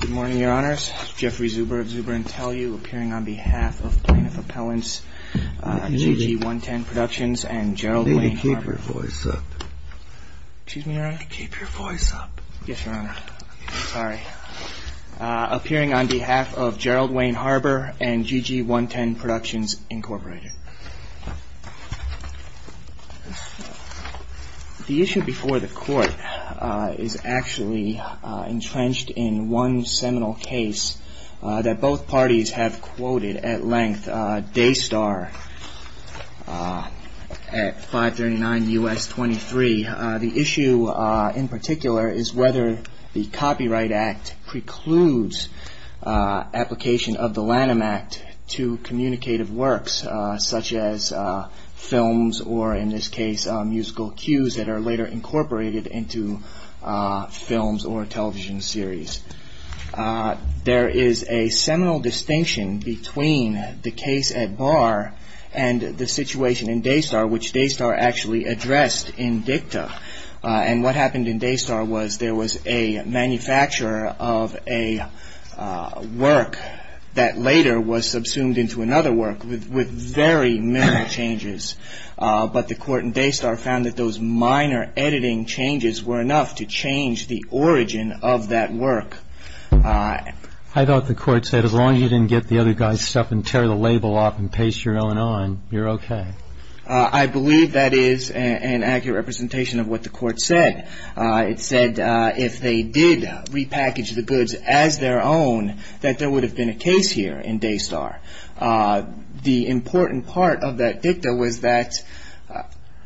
Good morning, Your Honours. Jeffrey Zuber of Zuber & Tellu, appearing on behalf of Plaintiff Appellants, GG-110 Productions and Gerald Wayne Harbour. Maybe keep your voice up. Excuse me, Your Honour? Keep your voice up. Yes, Your Honour. Sorry. Appearing on behalf of Gerald Wayne Harbour and GG-110 Productions Incorporated. The issue before the Court is actually entrenched in one seminal case that both parties have quoted at length, Daystar at 539 U.S. 23. The issue in particular is whether the Copyright Act precludes application of the Lanham Act to communicative works such as films or, in this case, musical cues that are later incorporated into films or television series. There is a seminal distinction between the case at Barr and the situation in Daystar, which Daystar actually addressed in dicta. And what happened in Daystar was there was a manufacturer of a work that later was subsumed into another work with very minimal changes. But the Court in Daystar found that those minor editing changes were enough to change the origin of that work. I thought the Court said as long as you didn't get the other guy's stuff and tear the label off and paste your own on, you're okay. I believe that is an accurate representation of what the Court said. It said if they did repackage the goods as their own, that there would have been a case here in Daystar. The important part of that dicta was that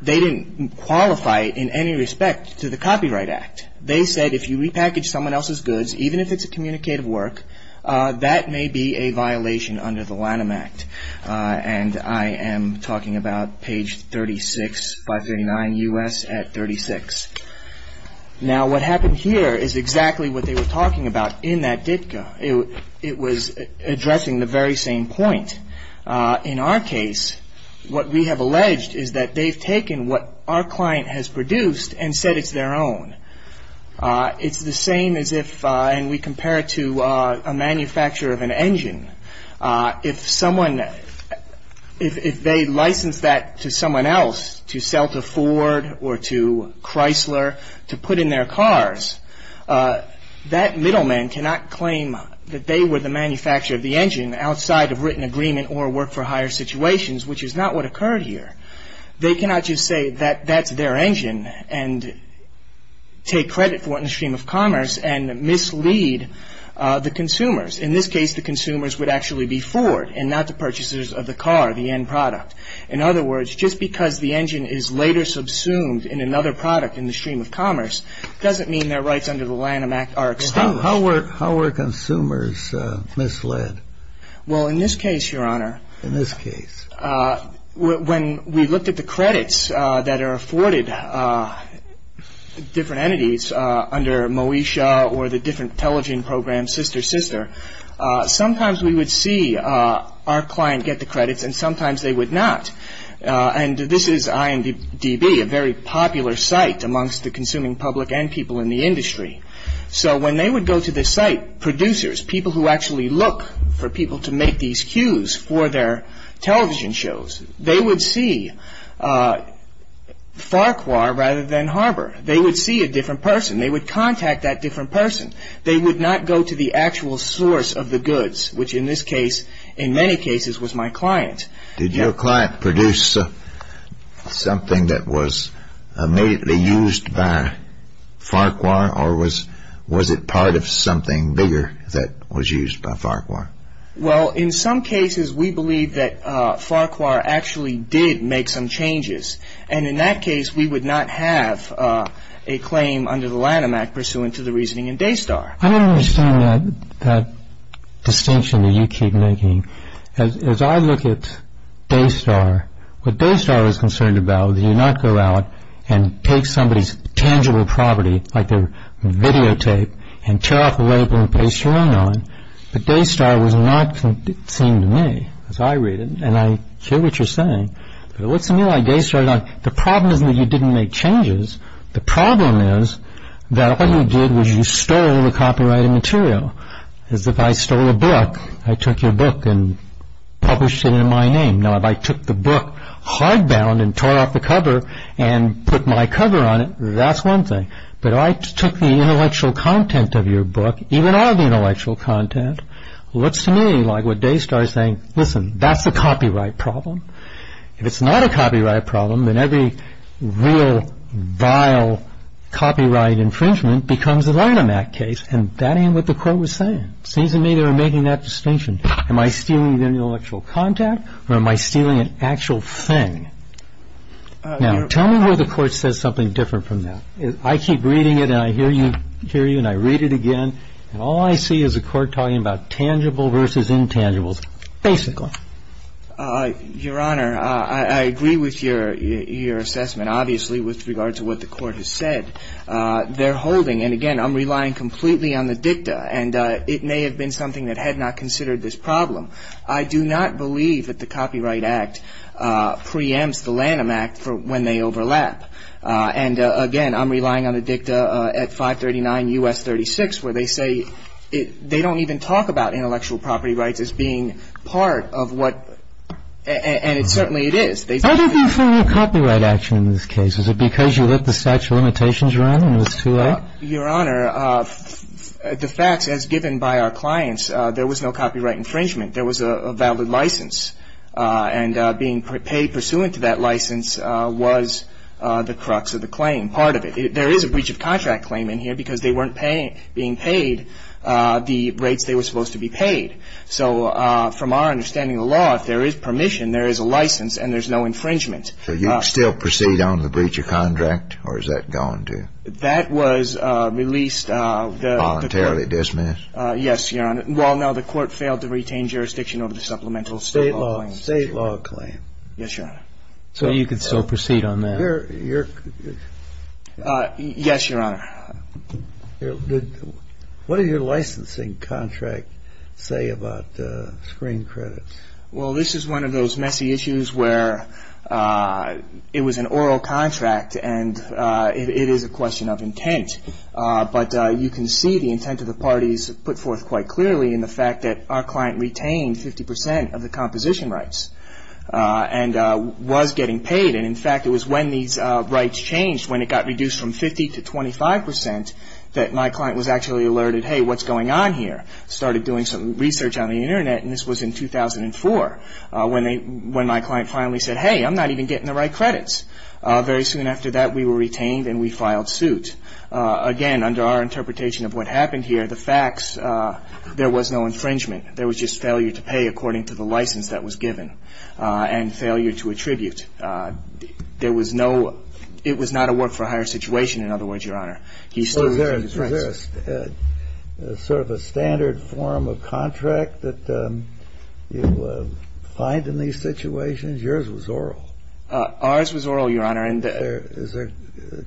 they didn't qualify it in any respect to the Copyright Act. They said if you repackage someone else's goods, even if it's a communicative work, that may be a violation under the Lanham Act. And I am talking about page 36, 539 U.S. at 36. Now what happened here is exactly what they were talking about in that dicta. It was addressing the very same point. In our case, what we have alleged is that they've taken what our a manufacturer of an engine. If someone, if they license that to someone else to sell to Ford or to Chrysler to put in their cars, that middleman cannot claim that they were the manufacturer of the engine outside of written agreement or work for hire situations, which is not what occurred here. They cannot just say that that's their engine and take credit for it in the stream of commerce and mislead the consumers. In this case, the consumers would actually be Ford and not the purchasers of the car, the end product. In other words, just because the engine is later subsumed in another product in the stream of commerce, doesn't mean their rights under the Lanham Act are extinguished. How were consumers misled? Well, in this case, Your Honor. In this case. When we looked at the credits that are afforded different entities under Moesha or the different television programs, Sister Sister, sometimes we would see our client get the credits and sometimes they would not. And this is IMDB, a very popular site amongst the consuming public and people in the industry. So when they would go to this site, producers, people who actually look for people to make these cues for their television shows, they would see Farquhar rather than Harbor. They would see a different person. They would contact that different person. They would not go to the actual source of the goods, which in this case, in many cases, was my client. Did your client produce something that was immediately used by Farquhar or was it part of something bigger that was used by Farquhar? Well, in some cases, we believe that Farquhar actually did make some changes. And in that case, we would not have a claim under the Lanham Act pursuant to the reasoning in Daystar. I don't understand that distinction that you keep making. As I look at Daystar, what Daystar is concerned about is that you do not go out and take somebody's tangible property, like your videotape, and tear off the label and paste your name on it. But Daystar was not seen to me, as I read it, and I hear what you're saying. But what's the meaning of Daystar? The problem isn't that you didn't make changes. The problem is that all you did was you stole the copyrighted material. As if I stole a book, I took your book and published it in my name. Now, if I took the book hardbound and tore off the cover and put my cover on it, that's one thing. But if I took the intellectual content of your book, even all the intellectual content, what's the meaning? Like what Daystar is saying, listen, that's a copyright problem. If it's not a copyright problem, then every real vile copyright infringement becomes a Lanham Act case. And that ain't what the court was saying. It seems to me they were making that distinction. Am I stealing the intellectual content, or am I stealing an actual thing? Now, tell me where the court says something different from that. I keep reading it, and I hear you, and I read it again, and all I see is the court talking about tangible versus intangibles, basically. Your Honor, I agree with your assessment, obviously, with regard to what the court has said. They're holding, and again, I'm relying completely on the dicta, and it may have been something that had not considered this problem. I do not believe that the Copyright Act preempts the Lanham Act for when they overlap. And again, I'm relying on the dicta at 539 U.S. 36, where they say they don't even talk about intellectual property rights as being part of what – and certainly it is. How do you confirm a copyright action in this case? Is it because you let the statute of limitations run, and it was too late? Your Honor, the facts, as given by our clients, there was no copyright infringement. There was a valid license, and being paid pursuant to that license was the crux of the claim, part of it. There is a breach of contract claim in here because they weren't being paid the rates they were supposed to be paid. So from our understanding of the law, if there is permission, there is a license, and there's no infringement. So you still proceed on the breach of contract, or is that gone, too? That was released. Voluntarily dismissed? Yes, Your Honor. Well, no, the court failed to retain jurisdiction over the supplemental state law claim. State law claim. Yes, Your Honor. So you can still proceed on that? Yes, Your Honor. What did your licensing contract say about screen credits? Well, this is one of those messy issues where it was an oral contract, and it is a question of intent. But you can see the intent of the parties put forth quite clearly in the fact that our client retained 50 percent of the composition rights and was getting paid. And in fact, it was when these rights changed, when it got reduced from 50 to 25 percent, that my client was actually alerted, hey, what's going on here? Started doing some research on the Internet, and this was in 2004, when my client finally said, hey, I'm not even getting the right credits. Very soon after that, we were retained and we filed suit. Again, under our interpretation of what happened here, the facts, there was no infringement. There was just failure to pay according to the license that was given and failure to attribute. There was no – it was not a work-for-hire situation, in other words, Your Honor. He still retained his rights. Was there sort of a standard form of contract that you find in these situations? Yours was oral. Ours was oral, Your Honor. Is there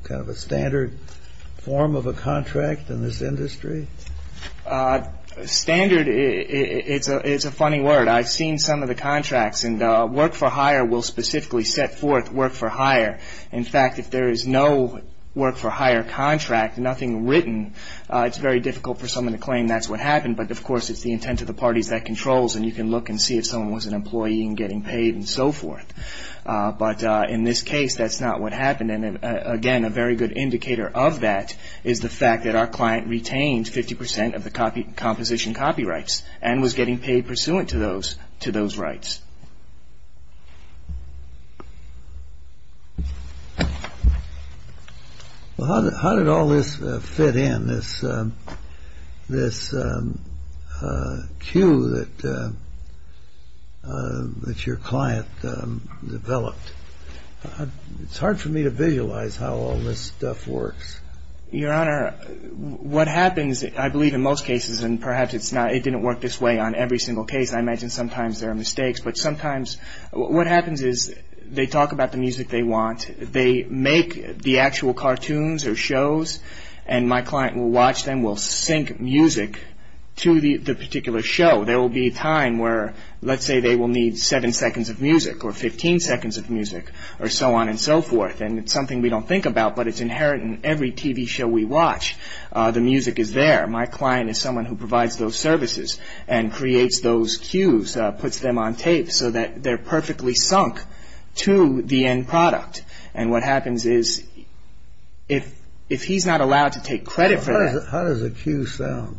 kind of a standard form of a contract in this industry? Standard is a funny word. I've seen some of the contracts, and work-for-hire will specifically set forth work-for-hire. In fact, if there is no work-for-hire contract, nothing written, it's very difficult for someone to claim that's what happened. But of course, it's the intent of the parties that controls, and you can look and see if someone was an employee and getting paid and so forth. But in this case, that's not what happened. And again, a very good indicator of that is the fact that our client retained 50 percent of the composition copyrights and was getting paid pursuant to those rights. Well, how did all this fit in, this cue that your client developed? It's hard for me to visualize how all this stuff works. Your Honor, what happens, I believe in most cases, and perhaps it didn't work this way on every single case, I imagine sometimes there are mistakes, but sometimes what happens is they talk about the music they want, they make the actual cartoons or shows, and my client will watch them, will sync music to the particular show. There will be a time where, let's say they will need seven seconds of music, or 15 seconds of music, or so on and so forth, and it's something we don't think about, but it's inherent in every TV show we watch. The music is there. My client is someone who provides those services and creates those cues, puts them on tape so that they're perfectly sunk to the end product. And what happens is if he's not allowed to take credit for that... How does a cue sound?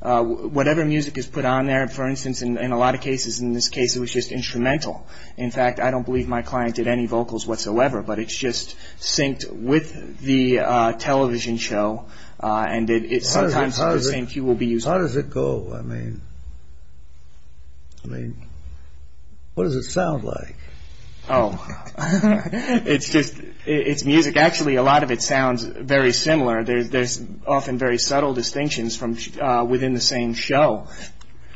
Whatever music is put on there, for instance, in a lot of cases, in this case, it was just instrumental. In fact, I don't believe my client did any vocals whatsoever, but it's just synced with the television show, and sometimes the same cue will be used. How does it go? I mean, what does it sound like? Oh, it's music. Actually, a lot of it sounds very similar. There's often very subtle distinctions within the same show.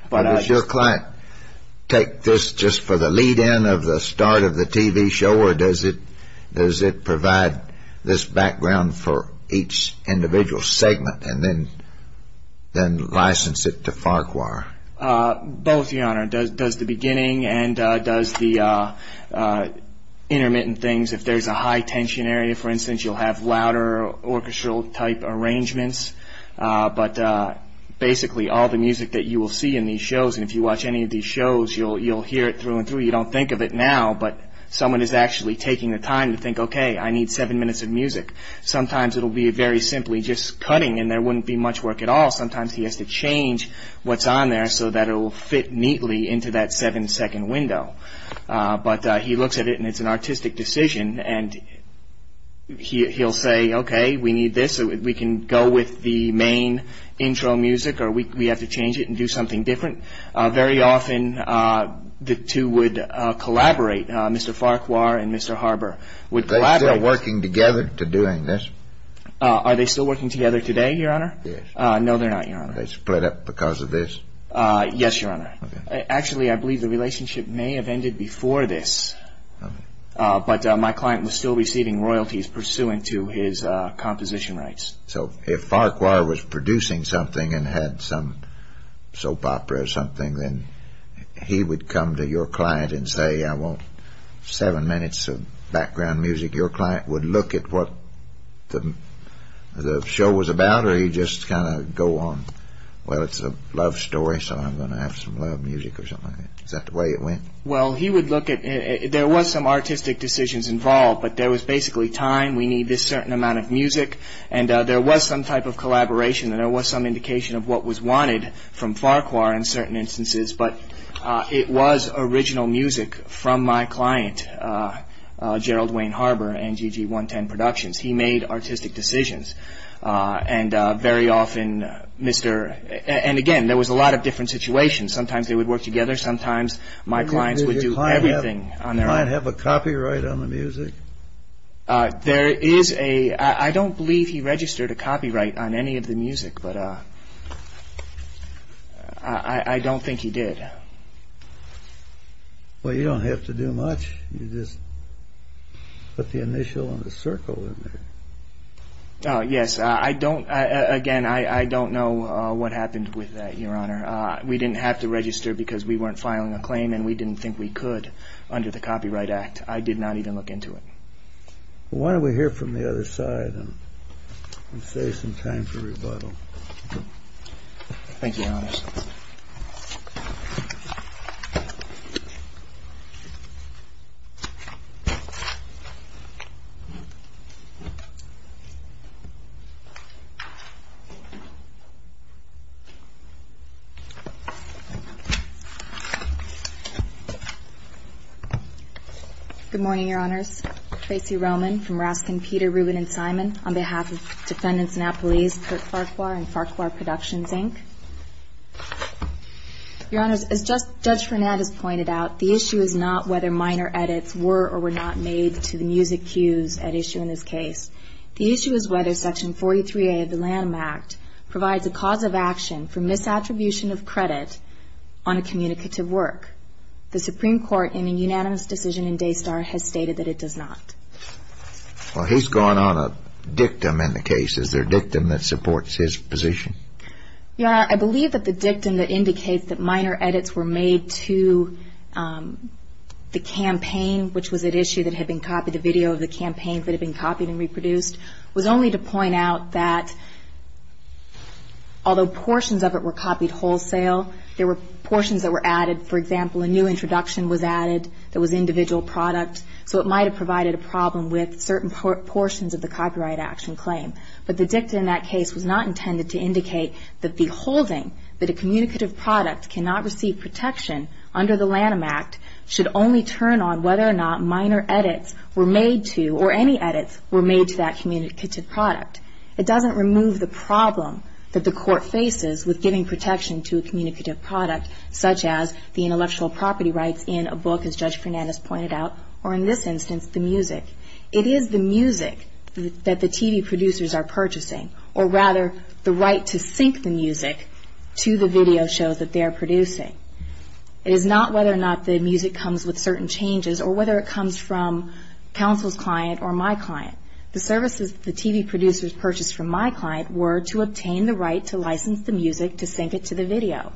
Does your client take this just for the lead-in of the start of the TV show, or does it provide this background for each individual segment, and then license it to Farquhar? Both, Your Honor. Does the beginning and does the intermittent things. If there's a high-tension area, for instance, you'll have louder orchestral-type arrangements. But basically, all the music that you will see in these shows, and if you watch any of these shows, you'll hear it through and through. You don't think of it now, but someone is actually taking the time to think, okay, I need seven minutes of music. Sometimes it'll be very simply just cutting, and there wouldn't be much work at all. Sometimes he has to change what's on there so that it will fit neatly into that seven-second window. But he looks at it, and it's an artistic decision, and he'll say, okay, we need this, so we can go with the main intro music, or we have to change it and do something different. Very often, the two would collaborate. Mr. Farquhar and Mr. Harbour would collaborate. Are they still working together to doing this? Are they still working together today, Your Honor? Yes. No, they're not, Your Honor. Are they split up because of this? Yes, Your Honor. Okay. Actually, I believe the relationship may have ended before this. Okay. But my client was still receiving royalties pursuant to his composition rights. So if Farquhar was producing something and had some soap opera or something, then he would come to your client and say, I want seven minutes of background music. Your client would look at what the show was about, or he'd just kind of go on, well, it's a love story, so I'm going to have some love music or something like that. Is that the way it went? Well, he would look at it. There was some artistic decisions involved, but there was basically time. We need this certain amount of music. And there was some type of collaboration, and there was some indication of what was wanted from Farquhar in certain instances. But it was original music from my client, Gerald Wayne Harbour, NGG 110 Productions. He made artistic decisions. And again, there was a lot of different situations. Sometimes they would work Does my client have a copyright on the music? I don't believe he registered a copyright on any of the music, but I don't think he did. Well, you don't have to do much. You just put the initial and the circle in there. Yes. Again, I don't know what happened with that, Your Honor. We didn't have to Why don't we hear from the other side and save some time for rebuttal? Good morning, Your Honors. Tracy Roman from Raskin, Peter, Rubin, and Simon on behalf of Defendants and Appellees, Kirk Farquhar and Farquhar Productions, Inc. Your Honors, as Judge Fernandez pointed out, the issue is not whether minor edits were or were not made to the music cues at issue in this case. The issue is whether Section 43A of the LAM Act provides a cause of action for misattribution of credit on a communicative work. The Supreme Court, in a unanimous decision in Daystar, has stated that it does not. Well, he's gone on a dictum in the case. Is there a dictum that supports his position? Your Honor, I believe that the dictum that indicates that minor edits were made to the campaign, which was at issue that had been copied, the video of the campaign that had been copied and reproduced, was only to point out that although portions of it were copied wholesale, there were portions that were added. For example, a new introduction was added that was individual product, so it might have provided a problem with certain portions of the copyright action claim. But the dictum in that case was not intended to indicate that the holding that a communicative product cannot receive protection under the LAM Act should only turn on whether or not minor edits were made to, or any edits were made to that communicative product. It doesn't remove the problem that the Court faces with giving protection to a communicative product, such as the intellectual property rights in a book, as Judge Fernandez pointed out, or in this instance, the music. It is the music that the TV producers are purchasing, or rather, the right to sync the music to the video shows that they are producing. It is not whether or not the music comes with certain changes, or whether it comes from counsel's client or my client. The services that the TV producers purchased from my client were to obtain the right to license the music to sync it to the video.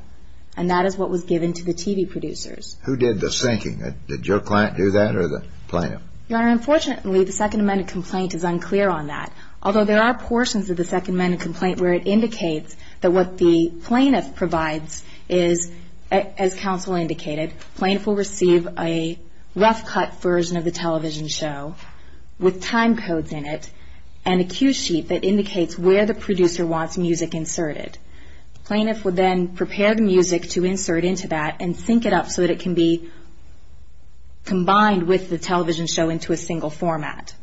And that is what was given to the TV producers. Who did the syncing? Did your client do that, or the plaintiff? Your Honor, unfortunately, the Second Amendment complaint is unclear on that. Although there are portions of the Second Amendment complaint where it indicates that what the plaintiff provides is, as counsel indicated, plaintiff will receive a rough cut version of the television show with time codes in it, and a cue sheet that indicates where the producer wants music inserted. The plaintiff would then prepare the music to insert into that and sync it up so that it can be combined with the television show into a single format.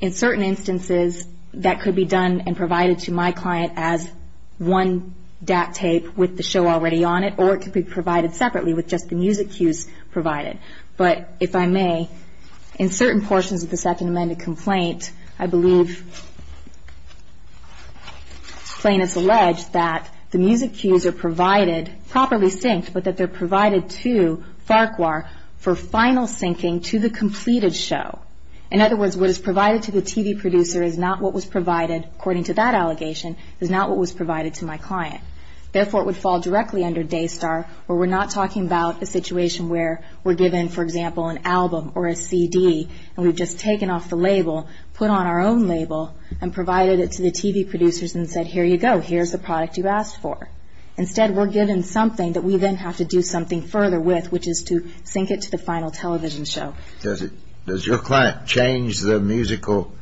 In certain instances, that could be done and provided to my client as one DAC tape with the show already on it, or it could be provided separately with just the music cues provided. But if I may, in certain portions of the Second Amendment complaint, I believe plaintiffs allege that the music cues are provided, properly synced, but that they're provided to Farquhar for final syncing to the completed show. In other words, what is provided to the TV producer is not what was provided, according to that allegation, is not what was provided to my client. Therefore, it would fall directly under Daystar, where we're not talking about the situation where we're given, for example, an album or a CD, and we've just taken off the label, put on our own label, and provided it to the TV producers and said, here you go, here's the product you asked for. Instead, we're given something that we then have to do something further with, which is to sync it to the final television show. Does your client change the musical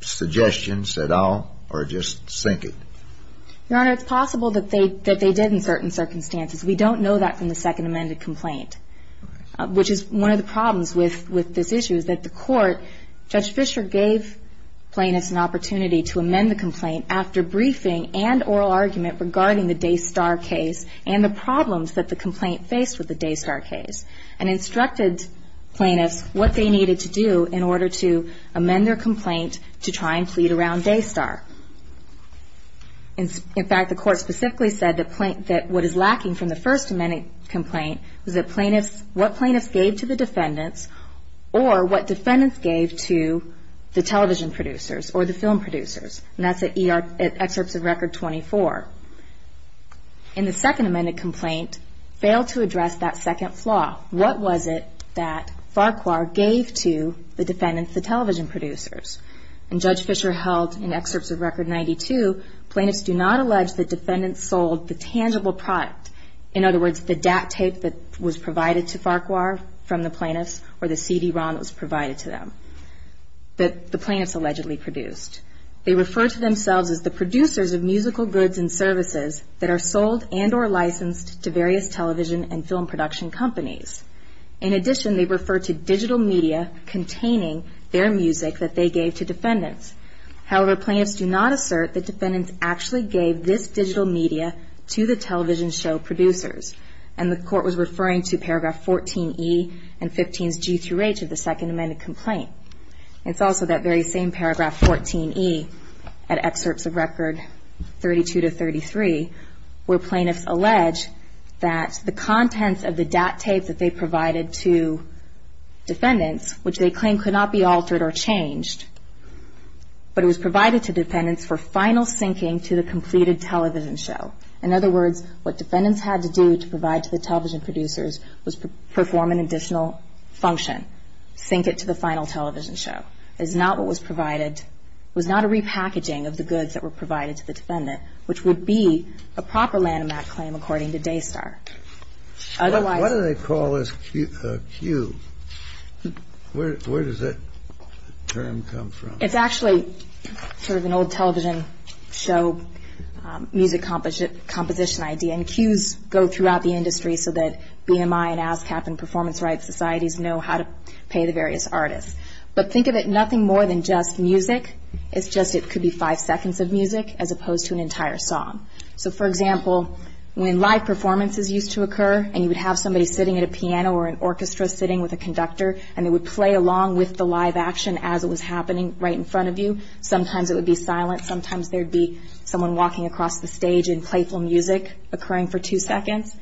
suggestions at all, or just sync it? Your Honor, it's possible that they did in certain circumstances. We don't know that from the Second Amendment complaint, which is one of the problems with this issue is that the court, Judge Fischer gave plaintiffs an opportunity to amend the complaint after briefing and oral argument regarding the Daystar case and the problems that the complaint faced with the Daystar case, and instructed plaintiffs what they needed to do in order to amend their complaint to try and plead around Daystar. In fact, the court specifically said that what is lacking from the First Amendment complaint was what plaintiffs gave to the defendants, or what defendants gave to the television producers or the film producers. And that's at Excerpts of Record 24. In the Second Amendment complaint, failed to address that second flaw. What was it that Farquhar gave to the defendants, the television producers? And Judge Fischer held in Excerpts of Record 92, plaintiffs do not allege that defendants sold the tangible product. In other words, the DAT tape that was provided to Farquhar from the plaintiffs, or the CD-ROM that was provided to them that the plaintiffs allegedly produced. They refer to themselves as the producers of musical goods and services that are sold and or licensed to various television and film production companies. In addition, they refer to digital media containing their music that they gave to defendants. However, plaintiffs do not assert that defendants actually gave this digital media to the television show producers. And the court was referring to Paragraph 14E and 15s G through H of the Second Amendment complaint. It's also that very same Paragraph 14E at Excerpts of Record 32 to 33, where plaintiffs allege that the contents of the DAT tape that they provided to defendants, which they claim could not be altered or changed, but it was provided to defendants for final syncing to the completed television show. In other words, what defendants had to do to provide to the television producers was perform an additional function, sync it to the final television show. It was not a repackaging of the goods that were provided to the defendant, which would be a proper Lanham Act claim according to Daystar. What do they call this cue? Where does that term come from? It's actually sort of an old television show music composition idea. And cues go throughout the industry so that BMI and ASCAP and performance rights societies know how to pay the various artists. But think of it nothing more than just music. It's just it could be five seconds of music as opposed to an entire song. So, for example, when live performances used to occur and you would have somebody sitting at a piano or an orchestra sitting with a conductor and they would play along with the live action as it was happening right in front of you, sometimes it would be silent, sometimes there would be someone walking across the stage and playful music occurring for two seconds.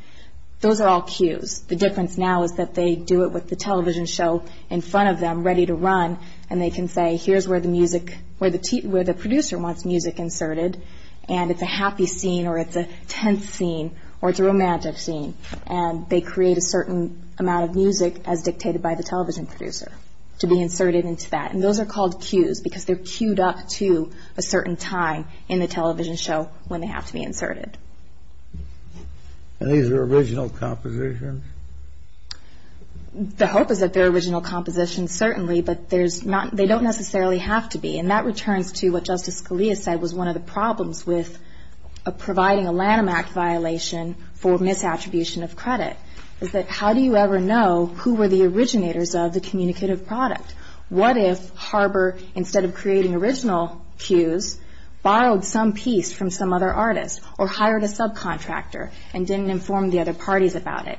Those are all cues. The difference now is that they do it with the television show in front of them ready to run and they can say here's where the producer wants music inserted and it's a happy scene or it's a tense scene or it's a romantic scene and they create a certain amount of music as dictated by the television producer to be inserted into that. And those are called cues because they're cued up to a certain time in the television show when they have to be inserted. And these are original compositions? The hope is that they're original compositions, certainly, but they don't necessarily have to be. And that returns to what Justice Scalia said was one of the problems with providing a Lanham Act violation for misattribution of credit is that how do you ever know who were the originators of the communicative product? What if Harbor, instead of creating original cues, borrowed some piece from some other artist or hired a subcontractor and didn't inform the other parties about it?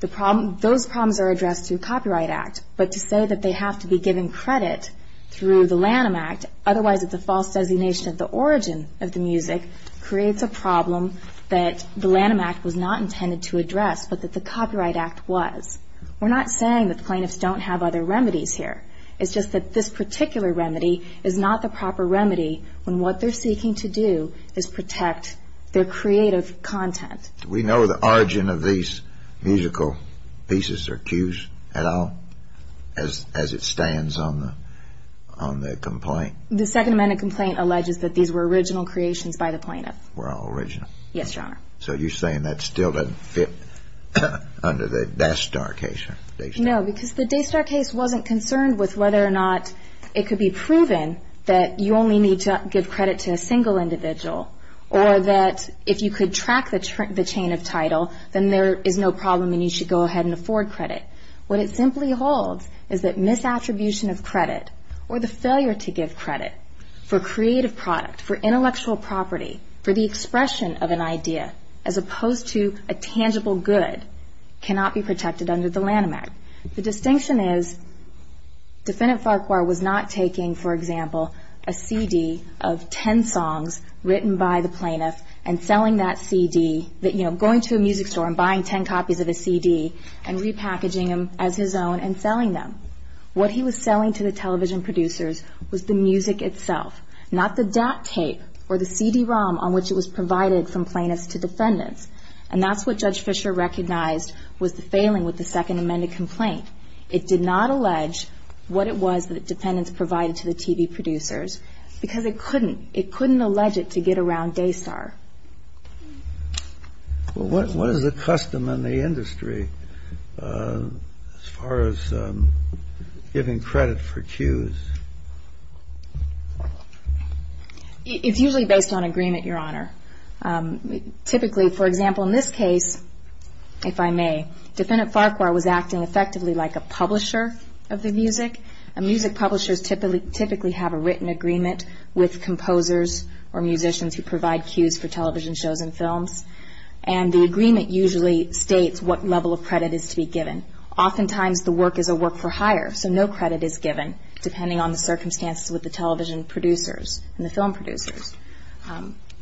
Those problems are addressed through a Copyright Act, but to say that they have to be given credit through the Lanham Act, otherwise it's a false designation of the origin of the music, creates a problem that the Lanham Act was not intended to address, but that the Copyright Act was. We're not saying that plaintiffs don't have other remedies here. It's just that this particular remedy is not the proper remedy when what they're seeking to do is protect their creative content. Do we know the origin of these musical pieces or cues at all as it stands on the complaint? The Second Amendment complaint alleges that these were original creations by the plaintiff. Were all original? Yes, Your Honor. So you're saying that still doesn't fit under the Daystar case? No, because the Daystar case wasn't concerned with whether or not it could be proven that you only need to give credit to a single individual, or that if you could track the chain of title, then there is no problem and you should go ahead and afford credit. What it simply holds is that misattribution of credit, or the failure to give credit for creative product, for intellectual property, for the expression of an idea, as opposed to a tangible good, cannot be protected under the Lanham Act. The distinction is Defendant Farquhar was not taking, for example, a CD of ten songs written by the plaintiff and selling that CD, going to a music store and buying ten copies of the CD and repackaging them as his own and selling them. What he was selling to the television producers was the music itself, not the DAT tape or the CD-ROM on which it was provided from plaintiffs to defendants. And that's what Judge Fischer recognized was the failing with the second amended complaint. It did not allege what it was that the defendants provided to the TV producers, because it couldn't. It couldn't allege it to get around Daystar. Well, what is the custom in the industry as far as giving credit for cues? It's usually based on agreement, Your Honor. Typically, for example, in this case, if I may, Defendant Farquhar was acting effectively like a publisher of the music. Music publishers typically have a written agreement with composers or musicians who provide cues for television shows and films, and the agreement usually states what level of credit is to be given. Oftentimes the work is a work for hire, so no credit is given, depending on the circumstances with the television producers and the film producers.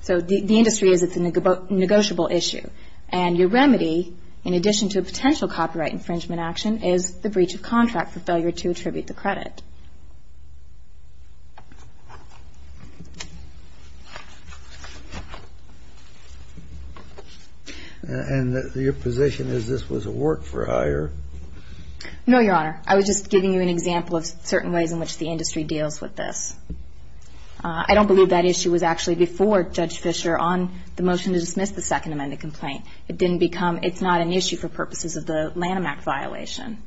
So the industry is a negotiable issue. And your remedy, in addition to a potential copyright infringement action, is the breach of contract for failure to attribute the credit. And your position is this was a work for hire? No, Your Honor. I was just giving you an example of certain ways in which the industry deals with this. I don't believe that issue was actually before Judge Fischer on the motion to dismiss the Second Amendment complaint. It didn't become ‑‑ it's not an issue for purposes of the Lanham Act violation.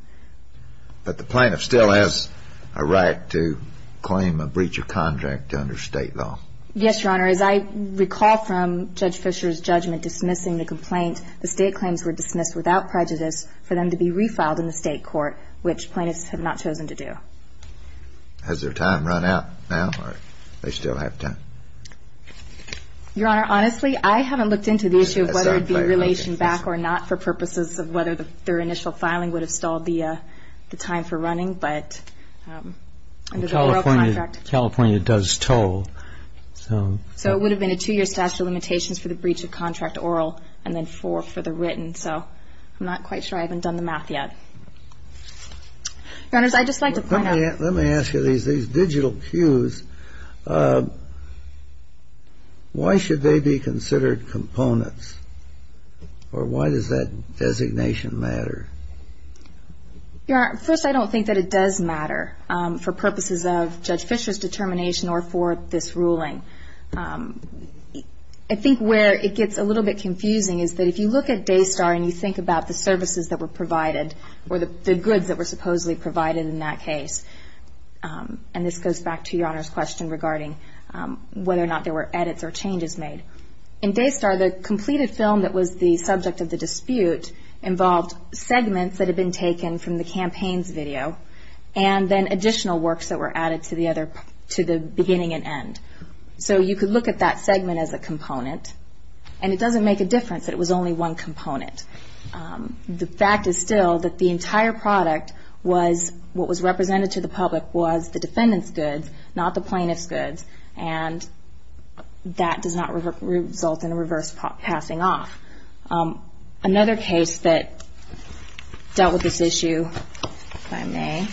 But the plaintiff still has a right to claim a breach of contract under State law. Yes, Your Honor. As I recall from Judge Fischer's judgment dismissing the complaint, the State claims were dismissed without prejudice for them to be refiled in the State court, which plaintiffs have not chosen to do. Has their time run out now? Or do they still have time? Your Honor, honestly, I haven't looked into the issue of whether it would be relation back or not for purposes of whether their initial filing would have stalled the time for running. But under the oral contract ‑‑ California does toll. So it would have been a two‑year statute of limitations for the breach of contract oral and then four for the written. So I'm not quite sure. I haven't done the math yet. Your Honors, I'd just like to point out ‑‑ Let me ask you these digital cues. Why should they be considered components? Or why does that designation matter? Your Honor, first, I don't think that it does matter for purposes of Judge Fischer's determination or for this ruling. I think where it gets a little bit confusing is that if you look at Daystar and you think about the services that were provided or the goods that were supposedly provided in that case. And this goes back to Your Honor's question regarding whether or not there were edits or changes made. In Daystar, the completed film that was the subject of the dispute involved segments that had been taken from the campaigns video and then additional works that were added to the beginning and end. So you could look at that segment as a component. And it doesn't make a difference that it was only one component. The fact is still that the entire product was what was represented to the public was the defendant's goods, not the plaintiff's goods. And that does not result in a reverse passing off. Another case that dealt with this issue, if I may.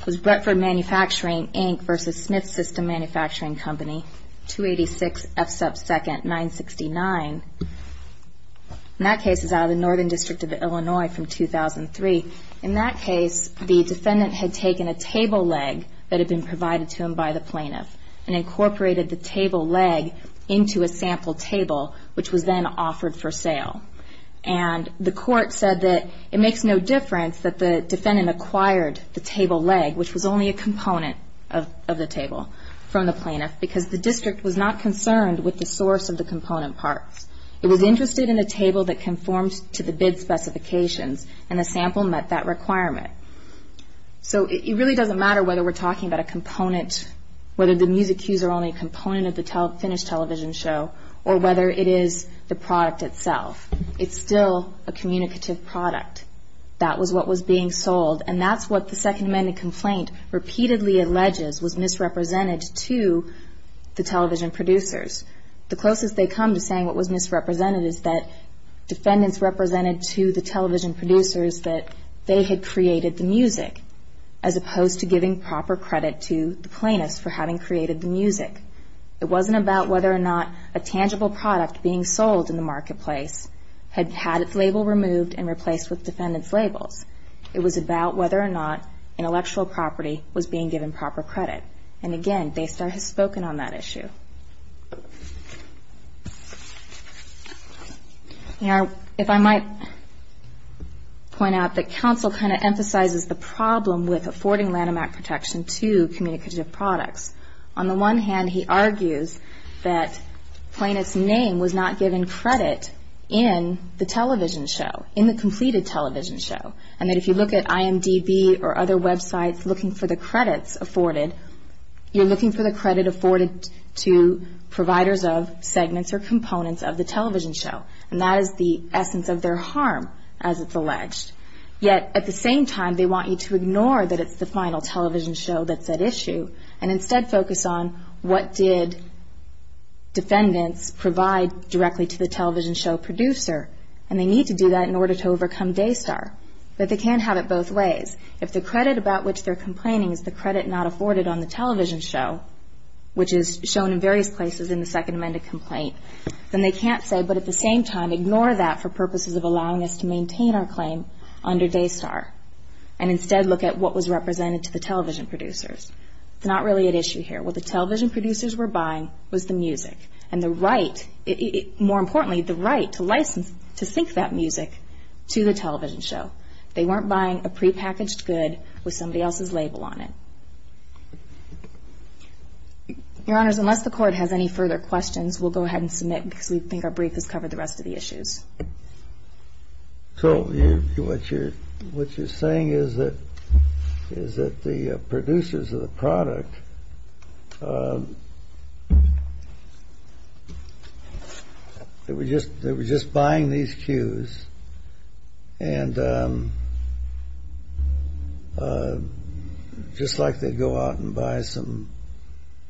It was Bretford Manufacturing, Inc. versus Smith System Manufacturing Company, 286 F2nd 969. And that case is out of the Northern District of Illinois from 2003. In that case, the defendant had taken a table leg that had been provided to him by the plaintiff and incorporated the table leg into a sample table, which was then offered for sale. And the court said that it makes no difference that the defendant acquired the table leg, which was only a component of the table from the plaintiff, because the district was not concerned with the source of the component parts. It was interested in a table that conformed to the bid specifications, and the sample met that requirement. So it really doesn't matter whether we're talking about a component, whether the music cues are only a component of the finished television show, or whether it is the product itself, it's still a communicative product. That was what was being sold, and that's what the Second Amendment complaint repeatedly alleges was misrepresented to the television producers. The closest they come to saying what was misrepresented is that defendants represented to the television producers that they had created the music, as opposed to giving proper credit to the plaintiffs for having created the music. It wasn't about whether or not a tangible product being sold in the marketplace had had its label removed and replaced with defendants' labels. It was about whether or not intellectual property was being given proper credit. And again, Baystar has spoken on that issue. Now, if I might point out that counsel kind of emphasizes the problem with affording Lanham Act protection to communicative products. On the one hand, he argues that plaintiff's name was not given credit in the television show, in the completed television show, and that if you look at IMDB or other websites looking for the credits afforded, you're looking for the credit afforded to providers of segments or components of the television show, and that is the essence of their harm, as it's alleged. Yet at the same time, they want you to ignore that it's the final television show that's at issue and instead focus on what did defendants provide directly to the television show producer, and they need to do that in order to overcome Daystar. But they can't have it both ways. If the credit about which they're complaining is the credit not afforded on the television show, which is shown in various places in the Second Amendment complaint, then they can't say, but at the same time, ignore that for purposes of allowing us to maintain our claim under Daystar and instead look at what was represented to the television producers. It's not really at issue here. What the television producers were buying was the music and the right, more importantly, the right to license, to sync that music to the television show. They weren't buying a prepackaged good with somebody else's label on it. Your Honors, unless the Court has any further questions, we'll go ahead and submit, because we think our brief has covered the rest of the issues. So what you're saying is that the producers of the product, they were just buying these cues, and just like they'd go out and buy some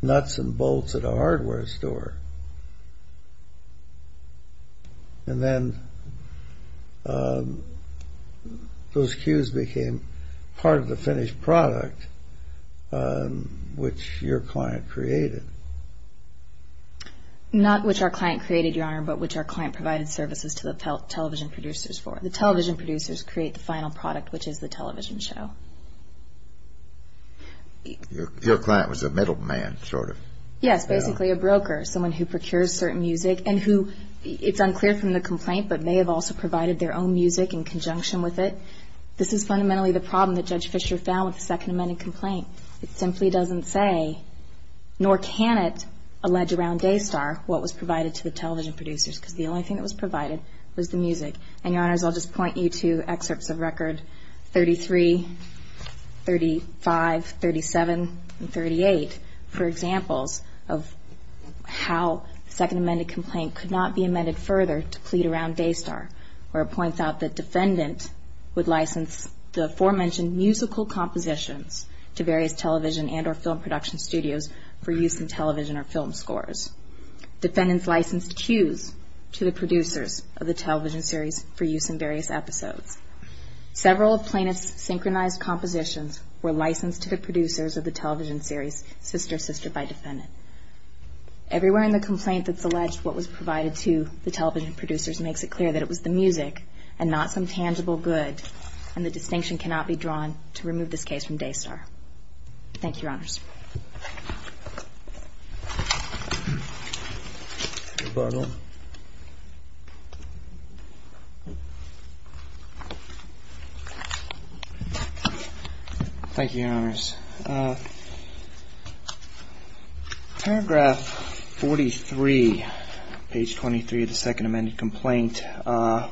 nuts and bolts at a hardware store, and then those cues became part of the finished product which your client created. Not which our client created, Your Honor, but which our client provided services to the television producers for. The television producers create the final product, which is the television show. Your client was a middleman, sort of. Yes, basically a broker, someone who procures certain music and who, it's unclear from the complaint, but may have also provided their own music in conjunction with it. This is fundamentally the problem that Judge Fischer found with the Second Amended Complaint. It simply doesn't say, nor can it allege around Daystar what was provided to the television producers, because the only thing that was provided was the music. And, Your Honors, I'll just point you to excerpts of Record 33, 35, 37, and 38 for examples of how the Second Amended Complaint could not be amended further to plead around Daystar, where it points out that Defendant would license the aforementioned musical compositions to various television and or film production studios for use in television or film scores. Defendant's licensed cues to the producers of the television series for use in various episodes. Several plaintiff's synchronized compositions were licensed to the producers of the television series, Sister, Sister by Defendant. Everywhere in the complaint that's alleged what was provided to the television producers makes it clear that it was the music and not some tangible good, and the distinction cannot be drawn to remove this case from Daystar. Thank you, Your Honors. Thank you, Your Honors. Thank you, Your Honors. Paragraph 43, page 23 of the Second Amended Complaint,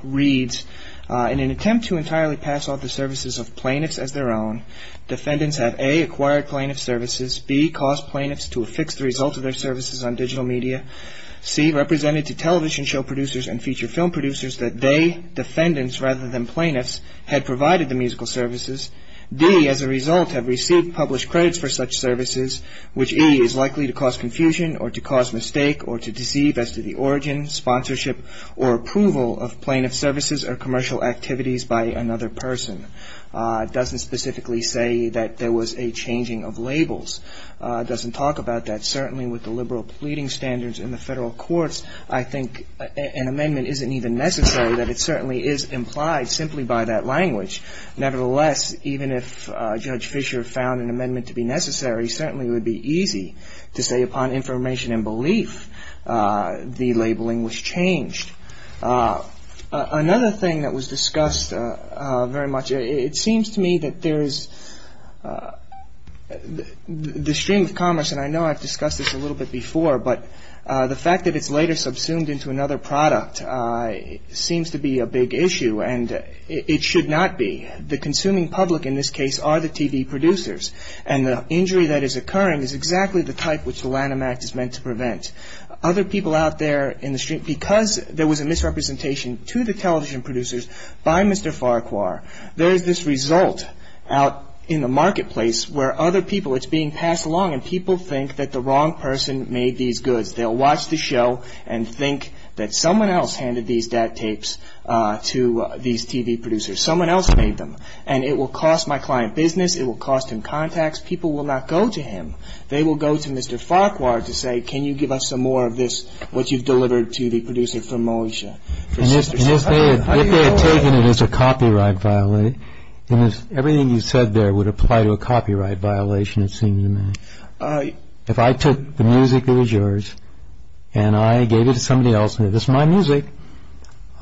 reads, In an attempt to entirely pass off the services of plaintiffs as their own, defendants have a. acquired plaintiff services, b. caused plaintiffs to affix the results of their services on digital media, c. represented to television show producers and feature film producers that they, defendants rather than plaintiffs, had provided the musical services, d. as a result have received published credits for such services, which e. is likely to cause confusion or to cause mistake or to deceive as to the origin, sponsorship, or approval of plaintiff services or commercial activities by another person. It doesn't specifically say that there was a changing of labels. It doesn't talk about that. Certainly with the liberal pleading standards in the federal courts, I think an amendment isn't even necessary, that it certainly is implied simply by that language. Nevertheless, even if Judge Fischer found an amendment to be necessary, certainly it would be easy to say upon information and belief the labeling was changed. Another thing that was discussed very much, it seems to me that there's the stream of commerce, and I know I've discussed this a little bit before, but the fact that it's later subsumed into another product seems to be a big issue, and it should not be. The consuming public in this case are the TV producers, and the injury that is occurring is exactly the type which the Lanham Act is meant to prevent. Other people out there in the street, because there was a misrepresentation to the television producers by Mr. Farquhar, there is this result out in the marketplace where other people, it's being passed along, and people think that the wrong person made these goods. They'll watch the show and think that someone else handed these DAT tapes to these TV producers. Someone else made them, and it will cost my client business, it will cost him contacts. People will not go to him. They will go to Mr. Farquhar to say, can you give us some more of this, what you've delivered to the producers from Malaysia? If they had taken it as a copyright violation, then everything you said there would apply to a copyright violation, it seems to me. If I took the music that was yours, and I gave it to somebody else and said, this is my music,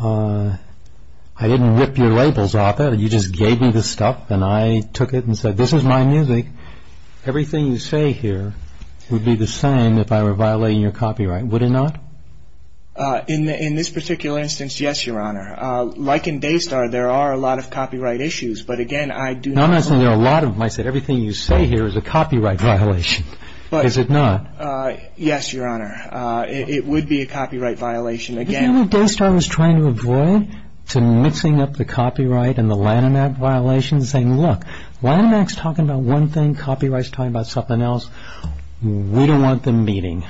I didn't rip your labels off it, you just gave me the stuff, and I took it and said, this is my music, everything you say here would be the same if I were violating your copyright, would it not? In this particular instance, yes, Your Honor. Like in Daystar, there are a lot of copyright issues, but again, I do not... Now, I'm not saying there are a lot of them. I said everything you say here is a copyright violation. Is it not? Yes, Your Honor. It would be a copyright violation. Do you know what Daystar was trying to avoid? To mixing up the copyright and the Lanham Act violations, saying, look, Lanham Act's talking about one thing, copyright's talking about something else. We don't want them meeting.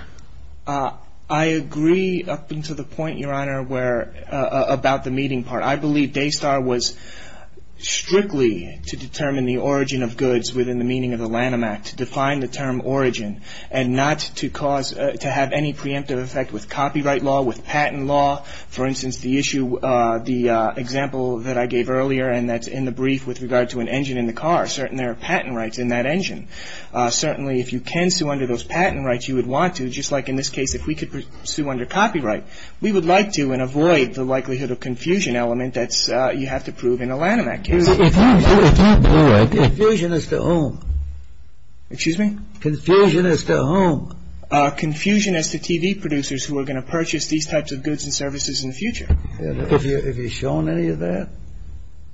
I agree up until the point, Your Honor, about the meeting part. I believe Daystar was strictly to determine the origin of goods within the meaning of the Lanham Act, to define the term origin, and not to cause, to have any preemptive effect with copyright law, with patent law. For instance, the issue, the example that I gave earlier, and that's in the brief with regard to an engine in the car, certainly there are patent rights in that engine. Certainly, if you can sue under those patent rights, you would want to. Just like in this case, if we could sue under copyright, we would like to and avoid the likelihood of confusion element that you have to prove in a Lanham Act case. Confusion as to whom? Excuse me? Confusion as to whom? Confusion as to TV producers who are going to purchase these types of goods and services in the future. Have you shown any of that?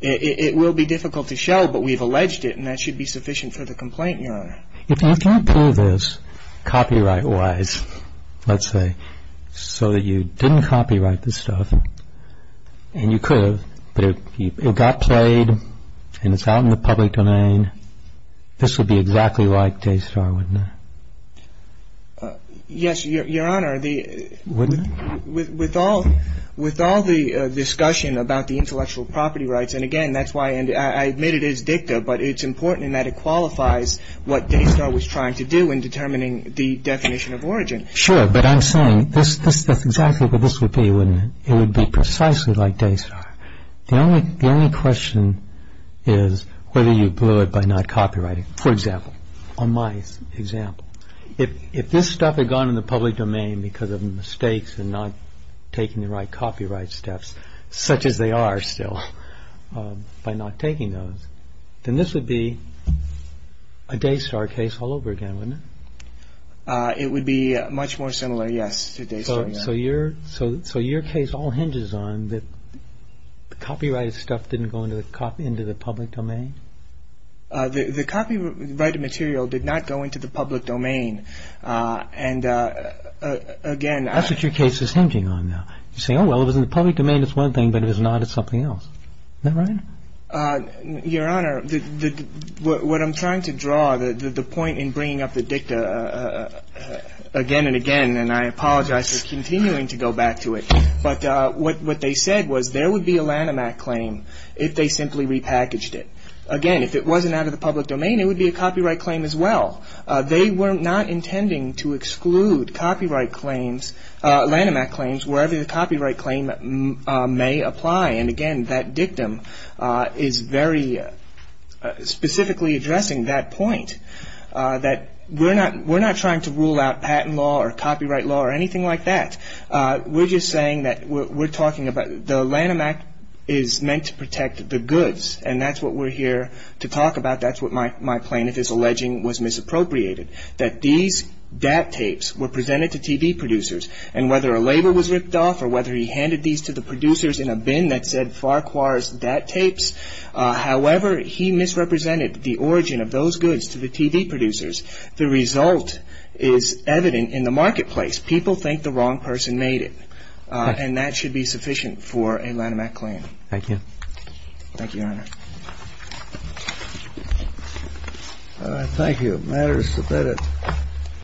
It will be difficult to show, but we've alleged it, and that should be sufficient for the complaint, Your Honor. If you can't prove this copyright-wise, let's say, so that you didn't copyright this stuff, and you could have, but it got played and it's out in the public domain, this would be exactly like Daystar, wouldn't it? Yes, Your Honor. Wouldn't it? With all the discussion about the intellectual property rights, and again, that's why I admit it is dicta, but it's important in that it qualifies what Daystar was trying to do in determining the definition of origin. Sure, but I'm saying that's exactly what this would be, wouldn't it? It would be precisely like Daystar. The only question is whether you blew it by not copyrighting. For example, on my example, if this stuff had gone in the public domain because of mistakes and not taking the right copyright steps, such as they are still, by not taking those, then this would be a Daystar case all over again, wouldn't it? It would be much more similar, yes, to Daystar. So your case all hinges on that the copyrighted stuff didn't go into the public domain? The copyrighted material did not go into the public domain. That's what your case is hinging on now. You say, oh, well, if it was in the public domain, it's one thing, but if it's not, it's something else. Is that right? Your Honor, what I'm trying to draw, the point in bringing up the dicta again and again, and I apologize for continuing to go back to it, but what they said was there would be a Lanham Act claim if they simply repackaged it. Again, if it wasn't out of the public domain, it would be a copyright claim as well. They were not intending to exclude copyright claims, Lanham Act claims, wherever the copyright claim may apply. And again, that dictum is very specifically addressing that point, that we're not trying to rule out patent law or copyright law or anything like that. We're just saying that we're talking about the Lanham Act is meant to protect the goods, and that's what we're here to talk about. That's what my plaintiff is alleging was misappropriated, that these DAT tapes were presented to TV producers, and whether a label was ripped off or whether he handed these to the producers in a bin that said Farquhar's DAT tapes, however, he misrepresented the origin of those goods to the TV producers. The result is evident in the marketplace. People think the wrong person made it, and that should be sufficient for a Lanham Act claim. Thank you. Thank you, Your Honor. Thank you. The matter is submitted.